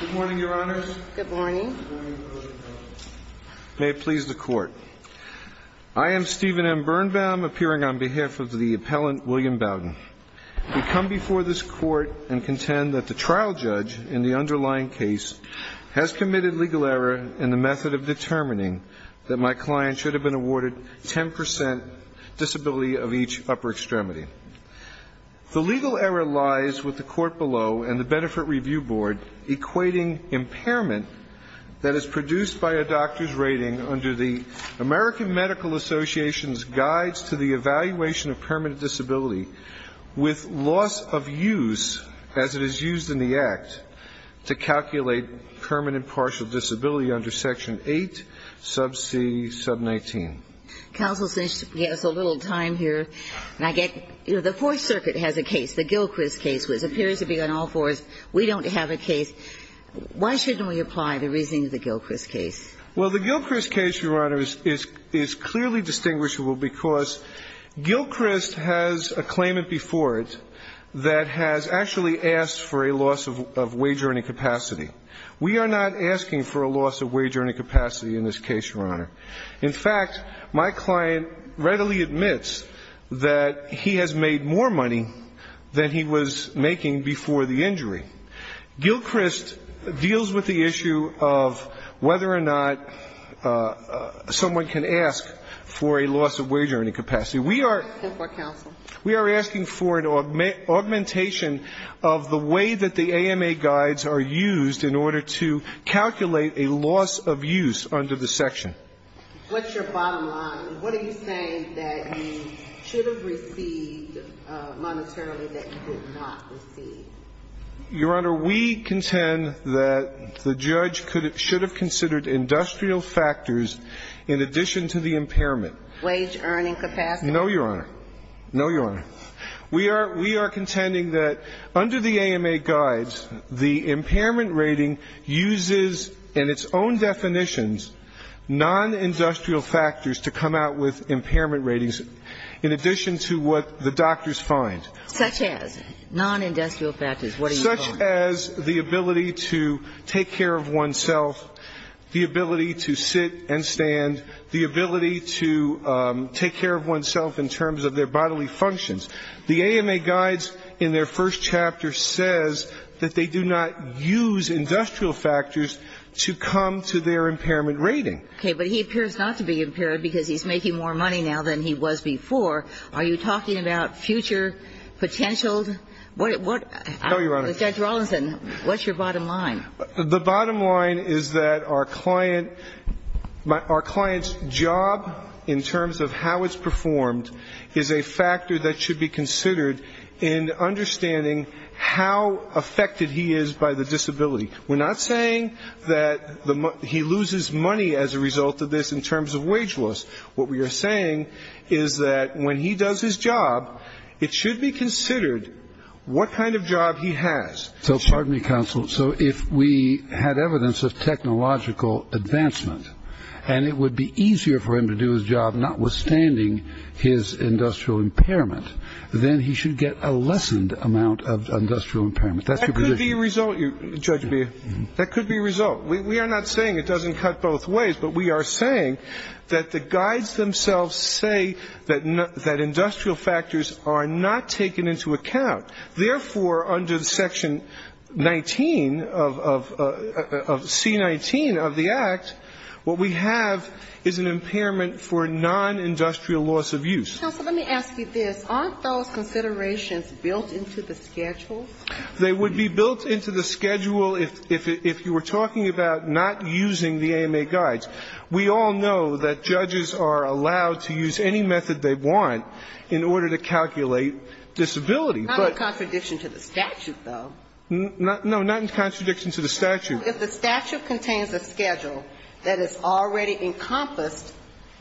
Good morning, Your Honors. Good morning. May it please the Court. I am Stephen M. Birnbaum, appearing on behalf of the appellant, William Bowden. We come before this Court and contend that the trial judge in the underlying case has committed legal error in the method of determining that my client should have been awarded 10% disability of each upper extremity. The legal error lies with the Court below and the Benefit Review Board equating impairment that is produced by a doctor's rating under the American Medical Association's Guides to the Evaluation of Permanent Disability with loss of use as it is used in the Act to calculate permanent partial disability under Section 8 sub c sub 19. Counsel, since you gave us a little time here, and I get, you know, the Fourth Circuit has a case, the Gilchrist case, which appears to be on all fours. We don't have a case. Why shouldn't we apply the reasoning of the Gilchrist case? Well, the Gilchrist case, Your Honor, is clearly distinguishable because Gilchrist has a claimant before it that has actually asked for a loss of wage earning capacity. We are not asking for a loss of wage earning capacity in this case, Your Honor. In fact, my client readily admits that he has made more money than he was making before the injury. Gilchrist deals with the issue of whether or not someone can ask for a loss of wage earning capacity. We are asking for an augmentation of the way that the AMA guides are used in order to calculate a loss of use under the section. What's your bottom line? What are you saying that you should have received monetarily that you did not receive? Your Honor, we contend that the judge should have considered industrial factors in addition to the impairment. Wage earning capacity? No, Your Honor. No, Your Honor. We are contending that under the AMA guides, the impairment rating uses in its own definitions non-industrial factors to come out with impairment ratings in addition to what the doctors find. Such as? Non-industrial factors. What are you calling? Such as the ability to take care of oneself, the ability to sit and stand, the ability to take care of oneself in terms of their bodily functions. The AMA guides in their first chapter says that they do not use industrial factors to come to their impairment rating. Okay. But he appears not to be impaired because he's making more money now than he was before. Are you talking about future potential? No, Your Honor. Judge Rawlinson, what's your bottom line? The bottom line is that our client's job in terms of how it's performed is a factor that should be considered in understanding how affected he is by the disability. We're not saying that he loses money as a result of this in terms of wage loss. What we are saying is that when he does his job, it should be considered what kind of job he has. So, pardon me, counsel, so if we had evidence of technological advancement and it would be easier for him to do his job notwithstanding his industrial impairment, then he should get a lessened amount of industrial impairment. That's your position? That could be a result, Judge Beha. That could be a result. We are not saying it doesn't cut both ways, but we are saying that the guides themselves say that industrial factors are not taken into account. Therefore, under Section 19 of C-19 of the Act, what we have is an impairment for non-industrial loss of use. Counsel, let me ask you this. Aren't those considerations built into the schedule? They would be built into the schedule if you were talking about not using the AMA guides. We all know that judges are allowed to use any method they want in order to calculate disability. Not in contradiction to the statute, though. No, not in contradiction to the statute. If the statute contains a schedule that has already encompassed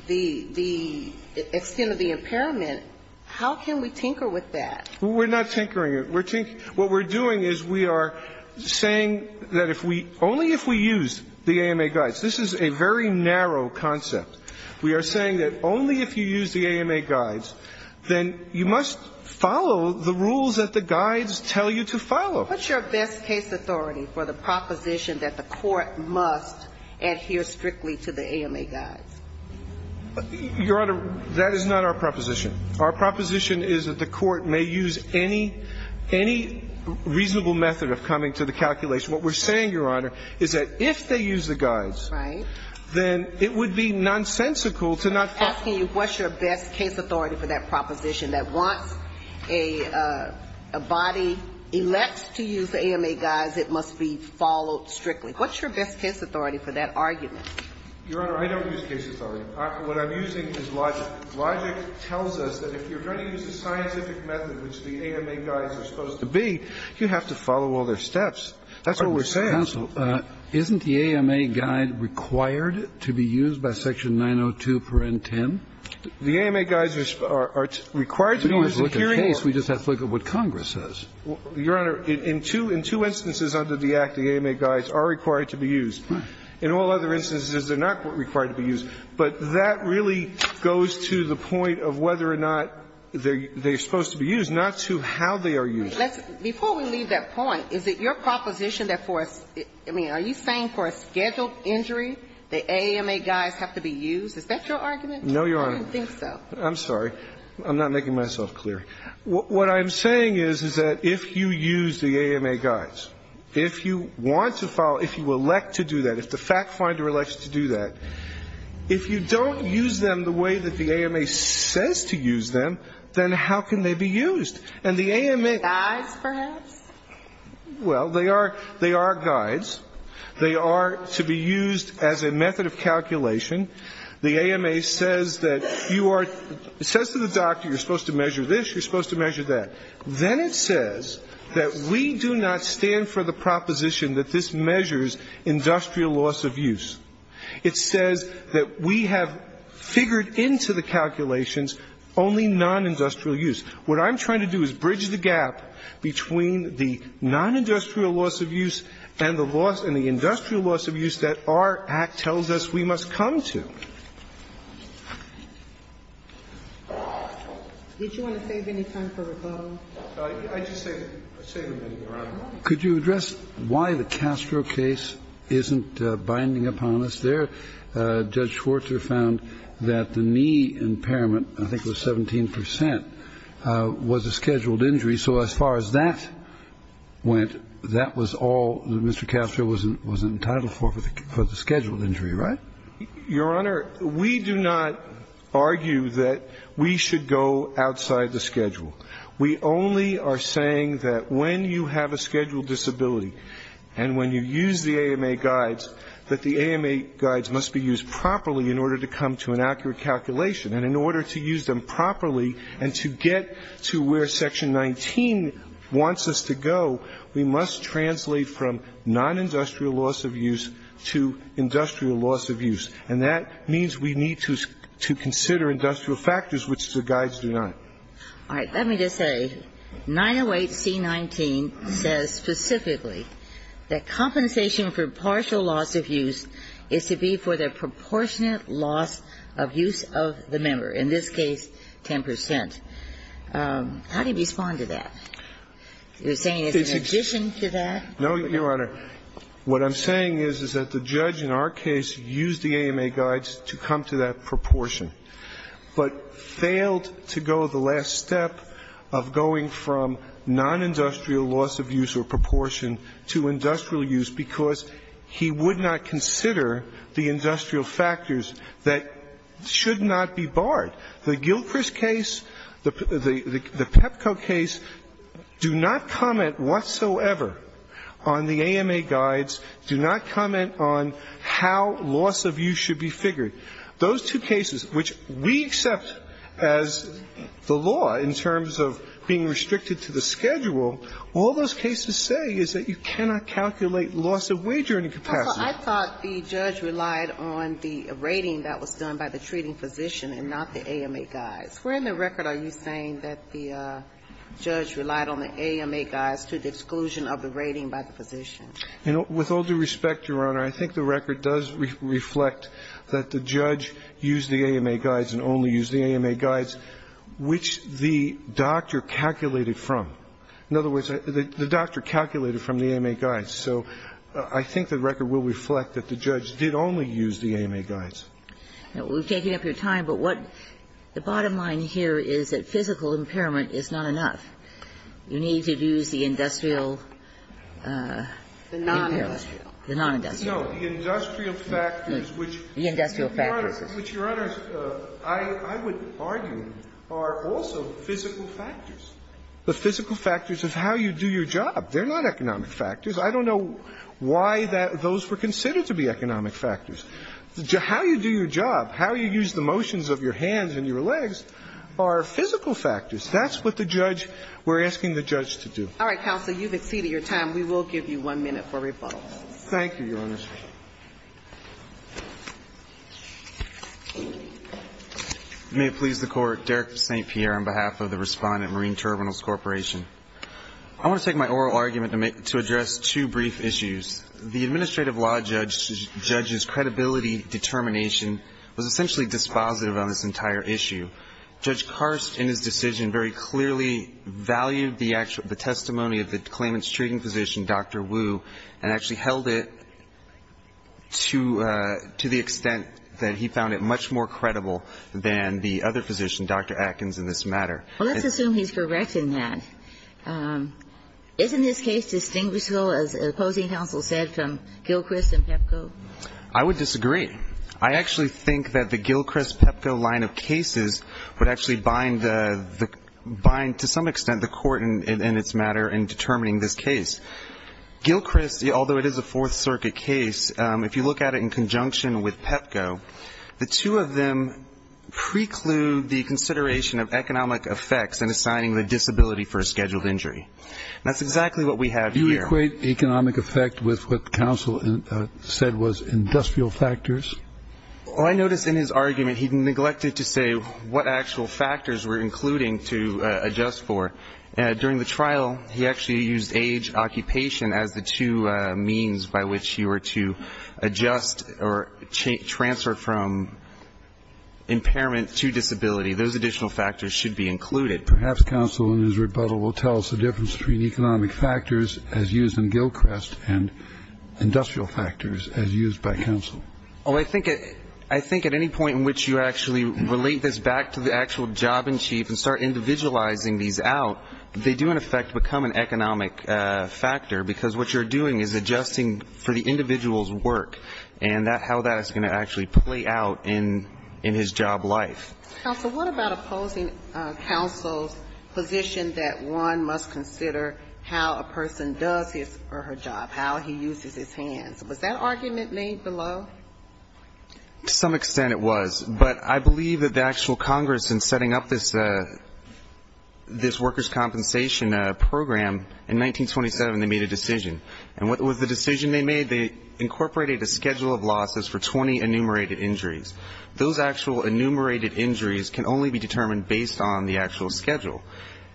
the extent of the impairment, how can we tinker with that? We're not tinkering. We're tinkering. What we're doing is we are saying that if we only if we use the AMA guides. This is a very narrow concept. We are saying that only if you use the AMA guides, then you must follow the rules that the guides tell you to follow. What's your best case authority for the proposition that the court must adhere strictly to the AMA guides? Your Honor, that is not our proposition. Our proposition is that the court may use any reasonable method of coming to the calculation. What we're saying, Your Honor, is that if they use the guides. Right. Then it would be nonsensical to not follow. I'm asking you what's your best case authority for that proposition that once a body elects to use the AMA guides, it must be followed strictly. What's your best case authority for that argument? Your Honor, I don't use case authority. What I'm using is logic. Logic tells us that if you're going to use a scientific method, which the AMA guides are supposed to be, you have to follow all their steps. That's what we're saying. Counsel, isn't the AMA guide required to be used by section 902.10? The AMA guides are required to be used in hearing. We don't have to look at the case. We just have to look at what Congress says. Your Honor, in two instances under the Act, the AMA guides are required to be used. In all other instances, they're not required to be used. But that really goes to the point of whether or not they're supposed to be used, not to how they are used. Before we leave that point, is it your proposition that for, I mean, are you saying for a scheduled injury, the AMA guides have to be used? Is that your argument? No, Your Honor. I don't think so. I'm sorry. I'm not making myself clear. What I'm saying is, is that if you use the AMA guides, if you want to follow, if you elect to do that, if the fact finder elects to do that, if you don't use them the way that the AMA says to use them, then how can they be used? And the AMA... Guides, perhaps? Well, they are guides. They are to be used as a method of calculation. The AMA says that you are, it says to the doctor you're supposed to measure this, you're supposed to measure that. Then it says that we do not stand for the proposition that this measures industrial loss of use. It says that we have figured into the calculations only non-industrial use. What I'm trying to do is bridge the gap between the non-industrial loss of use and the loss and the industrial loss of use that our Act tells us we must come to. Did you want to save any time for rebuttal? I just saved a minute, Your Honor. Could you address why the Castro case isn't binding upon us? Judge Schwartzer found that the knee impairment, I think it was 17%, was a scheduled injury. So as far as that went, that was all that Mr. Castro was entitled for, for the scheduled injury, right? Your Honor, we do not argue that we should go outside the schedule. We only are saying that when you have a scheduled disability and when you use the AMA guides, that the AMA guides must be used properly in order to come to an accurate calculation. And in order to use them properly and to get to where Section 19 wants us to go, we must translate from non-industrial loss of use to industrial loss of use. And that means we need to consider industrial factors, which the guides do not. All right. Let me just say, 908C19 says specifically that compensation for partial loss of use is to be for the proportionate loss of use of the member, in this case 10%. How do you respond to that? You're saying it's in addition to that? No, Your Honor. What I'm saying is, is that the judge in our case used the AMA guides to come to that last step of going from non-industrial loss of use or proportion to industrial use, because he would not consider the industrial factors that should not be barred. The Gilchrist case, the PEPCO case, do not comment whatsoever on the AMA guides, do not comment on how loss of use should be figured. Those two cases, which we accept as the law in terms of being restricted to the schedule, all those cases say is that you cannot calculate loss of wagering capacity. Counsel, I thought the judge relied on the rating that was done by the treating physician and not the AMA guides. Where in the record are you saying that the judge relied on the AMA guides to the exclusion of the rating by the physician? With all due respect, Your Honor, I think the record does reflect that the judge used the AMA guides and only used the AMA guides, which the doctor calculated from. In other words, the doctor calculated from the AMA guides. So I think the record will reflect that the judge did only use the AMA guides. We're taking up your time, but what the bottom line here is that physical impairment is not enough. You need to use the industrial impairment. The non-industrial. No, the industrial factors, which Your Honor, I would argue are also physical factors. The physical factors of how you do your job, they're not economic factors. I don't know why those were considered to be economic factors. How you do your job, how you use the motions of your hands and your legs are physical factors. That's what the judge, we're asking the judge to do. All right, counsel. You've exceeded your time. We will give you one minute for rebuttal. Thank you, Your Honor. May it please the Court. Derek St. Pierre on behalf of the Respondent Marine Terminals Corporation. I want to take my oral argument to address two brief issues. The administrative law judge's credibility determination was essentially dispositive on this entire issue. Judge Karst in his decision very clearly valued the testimony of the claimant's treating physician, Dr. Wu, and actually held it to the extent that he found it much more credible than the other physician, Dr. Atkins, in this matter. Well, let's assume he's correct in that. Isn't this case distinguishable, as opposing counsel said, from Gilchrist and Pepco? I would disagree. I actually think that the Gilchrist-Pepco line of cases would actually bind to some Gilchrist, although it is a Fourth Circuit case, if you look at it in conjunction with Pepco, the two of them preclude the consideration of economic effects in assigning the disability for a scheduled injury. That's exactly what we have here. Do you equate economic effect with what counsel said was industrial factors? Oh, I noticed in his argument he neglected to say what actual factors we're including to adjust for. During the trial, he actually used age, occupation as the two means by which he were to adjust or transfer from impairment to disability. Those additional factors should be included. Perhaps counsel in his rebuttal will tell us the difference between economic factors as used in Gilchrist and industrial factors as used by counsel. Oh, I think at any point in which you actually relate this back to the actual job in chief and start individualizing these out, they do in effect become an economic factor, because what you're doing is adjusting for the individual's work and how that is going to actually play out in his job life. Counsel, what about opposing counsel's position that one must consider how a person does his or her job, how he uses his hands? Was that argument made below? To some extent it was, but I believe that the actual Congress in setting up this workers' compensation program, in 1927 they made a decision. And with the decision they made, they incorporated a schedule of losses for 20 enumerated injuries. Those actual enumerated injuries can only be determined based on the actual schedule.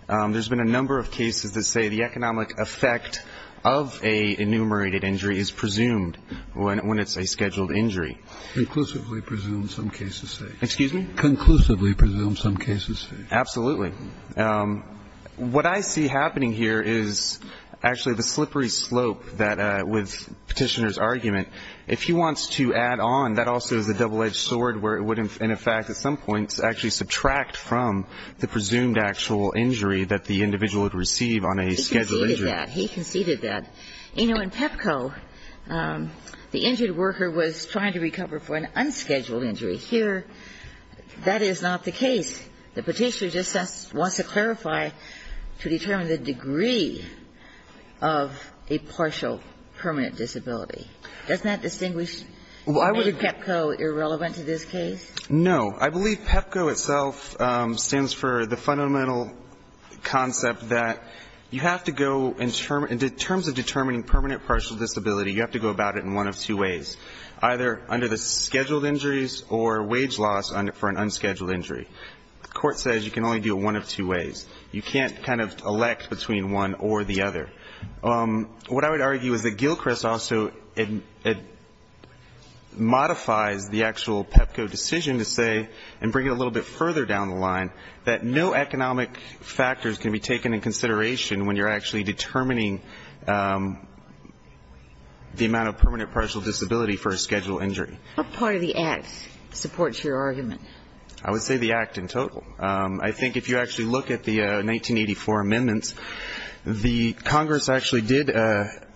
There's been a number of cases that say the economic effect of an enumerated injury is presumed when it's a scheduled injury. Conclusively presumed, some cases say. Absolutely. What I see happening here is actually the slippery slope with Petitioner's argument. If he wants to add on, that also is a double-edged sword where it would in effect at some point actually subtract from the presumed actual injury that the individual would receive on a scheduled injury. He conceded that. You know, in PEPCO, the injured worker was trying to recover for an unscheduled injury. Here that is not the case. The Petitioner just wants to clarify, to determine the degree of a partial permanent disability. Doesn't that distinguish, make PEPCO irrelevant to this case? No. I believe PEPCO itself stands for the fundamental concept that you have to go in terms of determining permanent partial disability, you have to go about it in one of two ways. Either under the scheduled injuries or wage loss for an unscheduled injury. The court says you can only do it one of two ways. You can't kind of elect between one or the other. What I would argue is that Gilchrist also modifies the actual PEPCO decision to say, and bring it a little bit further down the line, the amount of permanent partial disability for a scheduled injury. What part of the Act supports your argument? I would say the Act in total. I think if you actually look at the 1984 amendments, the Congress actually did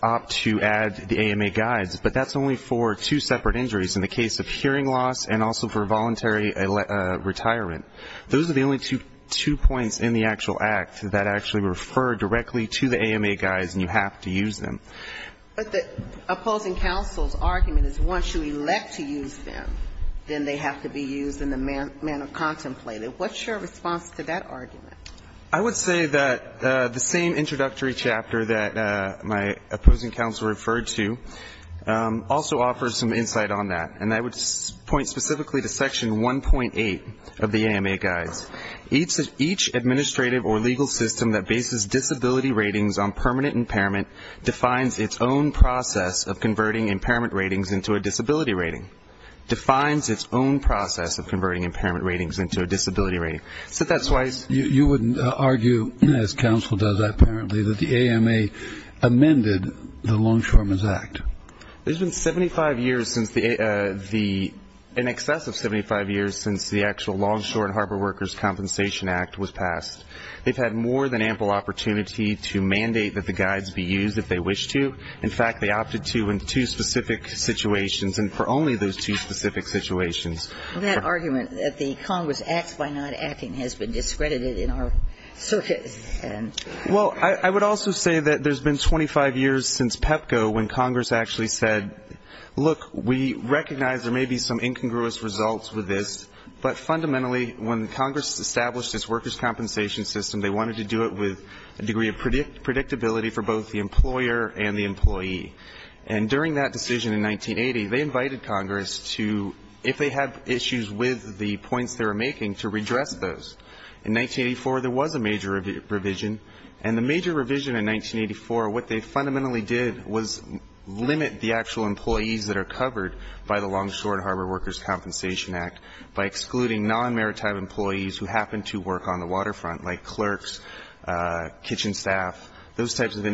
opt to add the AMA guides, but that's only for two separate injuries in the case of hearing loss and also for voluntary retirement. Those are the only two points in the actual Act that actually refer directly to the AMA guides and you have to use them. But the opposing counsel's argument is once you elect to use them, then they have to be used in the manner contemplated. What's your response to that argument? I would say that the same introductory chapter that my opposing counsel referred to also offers some insight on that. And I would point specifically to section 1.8 of the AMA guides. Each administrative or legal system that bases disability ratings on permanent impairment defines its own process of converting impairment ratings into a disability rating. Defines its own process of converting impairment ratings into a disability rating. You wouldn't argue, as counsel does apparently, that the AMA amended the Longshoremen's Act? It's been 75 years since the actual Longshore and Harbor Workers Compensation Act was passed. They've had more than ample opportunity to mandate that the guides be used if they wish to. In fact, they opted to in two specific situations and for only those two specific situations. That argument that the Congress acts by not acting has been discredited in our circuits. Well, I would also say that there's been 25 years since PEPCO when Congress actually said, look, we recognize there may be some incongruous results with this, but fundamentally when Congress established its workers' compensation system, they wanted to do it with a degree of predictability for both the employer and the employee. And during that decision in 1980, they invited Congress to, if they had issues with the points they were making, to redress those. In 1984, there was a major revision. And the major revision in 1984, what they fundamentally did was limit the actual employees that are covered by the Longshore and Harbor Workers Compensation Act by excluding non-maritime employees who happen to work on the waterfront, like clerks, kitchen staff, those types of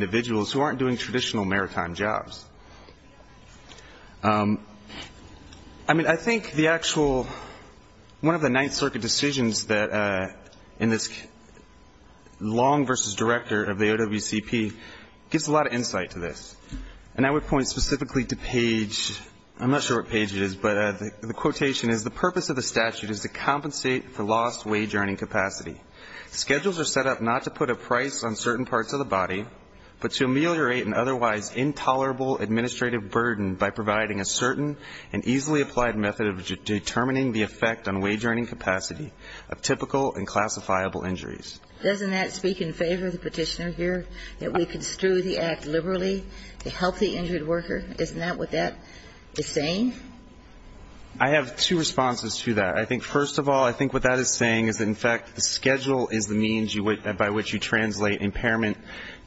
jobs. I mean, I think the actual, one of the Ninth Circuit decisions that, in this Long v. Director of the OWCP, gives a lot of insight to this. And I would point specifically to page, I'm not sure what page it is, but the quotation is, the purpose of the statute is to compensate for lost wage earning capacity. Schedules are set up not to put a price on certain parts of the body, but to ameliorate an otherwise intolerable administrative burden by providing a certain and easily applied method of determining the effect on wage earning capacity of typical and classifiable injuries. Doesn't that speak in favor of the petitioner here, that we construe the act liberally to help the injured worker? Isn't that what that is saying? I have two responses to that. I think, first of all, I think what that is saying is, in fact, the schedule is the means by which you translate impairment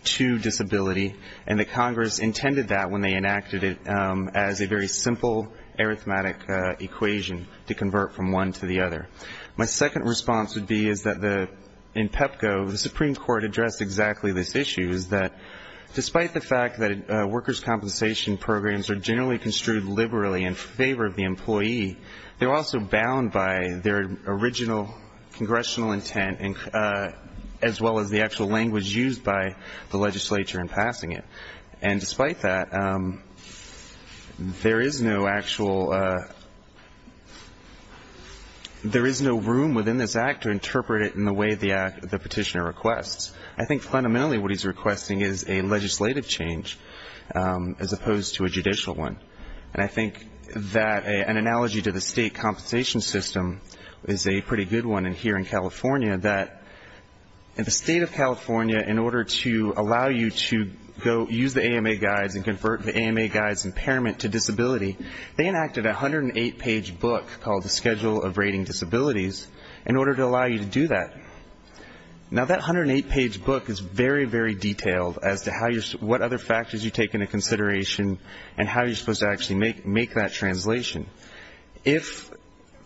to disability, and that Congress intended that when they enacted it as a very simple arithmetic equation to convert from one to the other. My second response would be is that in PEPCO, the Supreme Court addressed exactly this issue, is that despite the fact that workers' compensation programs are generally construed liberally in favor of the employee, they're also bound by their original congressional intent, as well as the actual language used by the legislature in passing it. And despite that, there is no actual room within this act to interpret it in the way the petitioner requests. I think fundamentally what he's requesting is a legislative change as opposed to a judicial one. And I think that an analogy to the state compensation system is a pretty good one here in California, that in the state of California, in order to allow you to go use the AMA guides and convert the AMA guides impairment to disability, they enacted a 108-page book called the Schedule of Rating Disabilities in order to allow you to do that. Now, that 108-page book is very, very detailed as to what other factors you take into consideration and how you're supposed to actually make that translation. If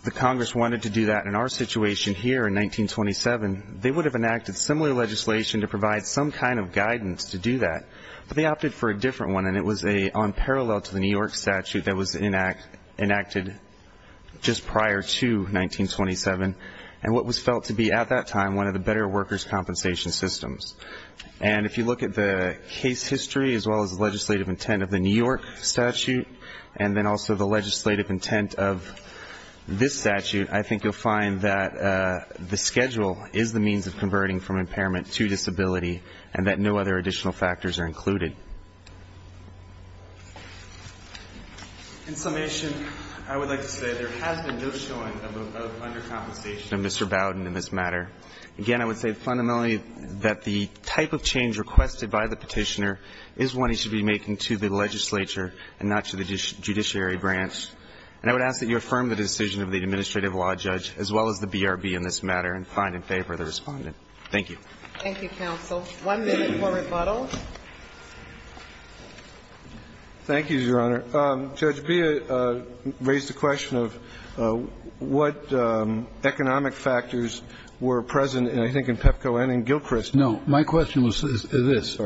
the Congress wanted to do that in our situation here in 1927, they would have enacted similar legislation to provide some kind of guidance to do that. But they opted for a different one, and it was a unparalleled to the New York statute that was enacted just prior to 1927, and what was felt to be at that time one of the better workers' compensation systems. And if you look at the case history as well as the legislative intent of the New York statute, and then also the legislative intent of this statute, I think you'll find that the schedule is the means of converting from impairment to disability, and that no other additional factors are included. In summation, I would like to say there has been no showing of undercompensation of Mr. Bowden in this matter. Again, I would say fundamentally that the type of change requested by the Petitioner is one he should be making to the legislature and not to the judiciary branch. And I would ask that you affirm the decision of the administrative law judge, as well as the BRB in this matter, and find in favor of the Respondent. Thank you. Thank you, counsel. One minute for rebuttal. Thank you, Your Honor. Judge Beah raised the question of what economic factors were present, and I think in PEPCO, and in Gilchrist. No. My question was this.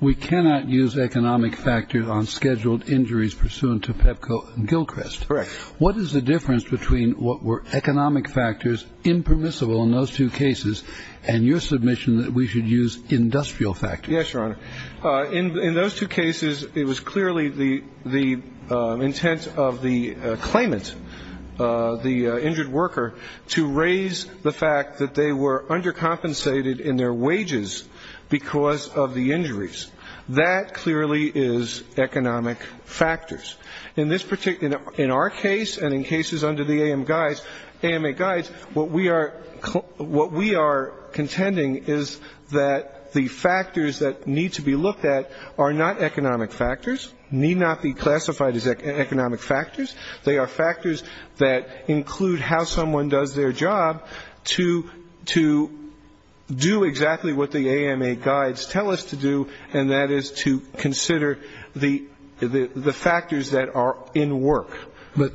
We cannot use economic factors on scheduled injuries pursuant to PEPCO and Gilchrist. Correct. What is the difference between what were economic factors impermissible in those two cases and your submission that we should use industrial factors? Yes, Your Honor. In those two cases, it was clearly the intent of the claimant, the injured worker, to raise the fact that they were undercompensated in their wages because of the injuries. That clearly is economic factors. In our case, and in cases under the AMA guides, what we are contending is that the factors that need to be looked at are not economic factors, need not be classified as economic factors. They are factors that include how someone does their job to do exactly what the AMA guides tell us to do, and that is to consider the factors that are in work. But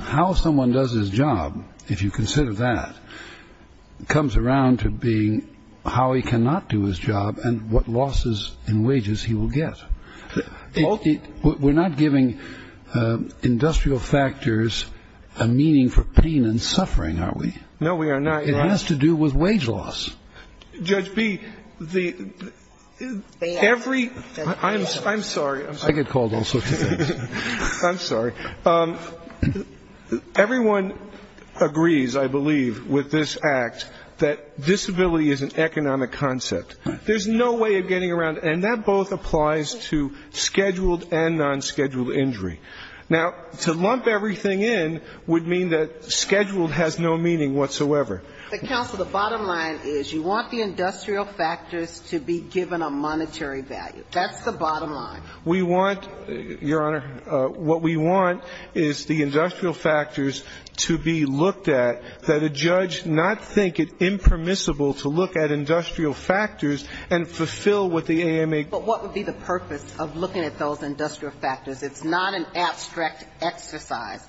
how someone does his job, if you consider that, comes around to being how he cannot do his job and what losses in wages he will get. We're not giving industrial factors a meaning for pain and suffering, are we? No, we are not, Your Honor. It has to do with wage loss. Judge B, the every I'm sorry. I get called all sorts of things. I'm sorry. Everyone agrees, I believe, with this Act that disability is an economic concept. There's no way of getting around, and that both applies to scheduled and nonscheduled injury. Now, to lump everything in would mean that scheduled has no meaning whatsoever. Counsel, the bottom line is you want the industrial factors to be given a monetary value. That's the bottom line. We want, Your Honor, what we want is the industrial factors to be looked at that a judge not think it impermissible to look at industrial factors and fulfill what the AMA... But what would be the purpose of looking at those industrial factors? It's not an abstract exercise.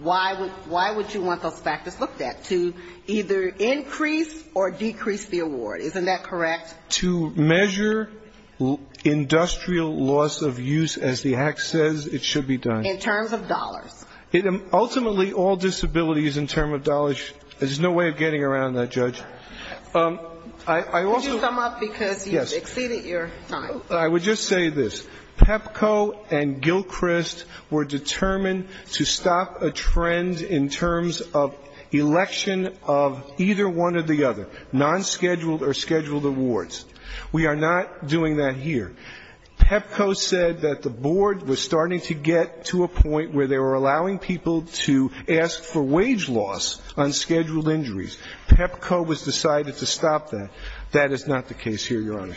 Why would you want those factors looked at? To either increase or decrease the award. Isn't that correct? To measure industrial loss of use, as the Act says it should be done. In terms of dollars. Ultimately, all disability is in terms of dollars. There's no way of getting around that, Judge. I would just say this. PEPCO and Gilchrist were determined to stop a trend in terms of election of either one or the other, nonscheduled or scheduled awards. We are not doing that here. PEPCO said that the board was starting to get to a point where they were allowing people to ask for wage loss on scheduled injuries. PEPCO was decided to stop that. That is not the case here, Your Honor.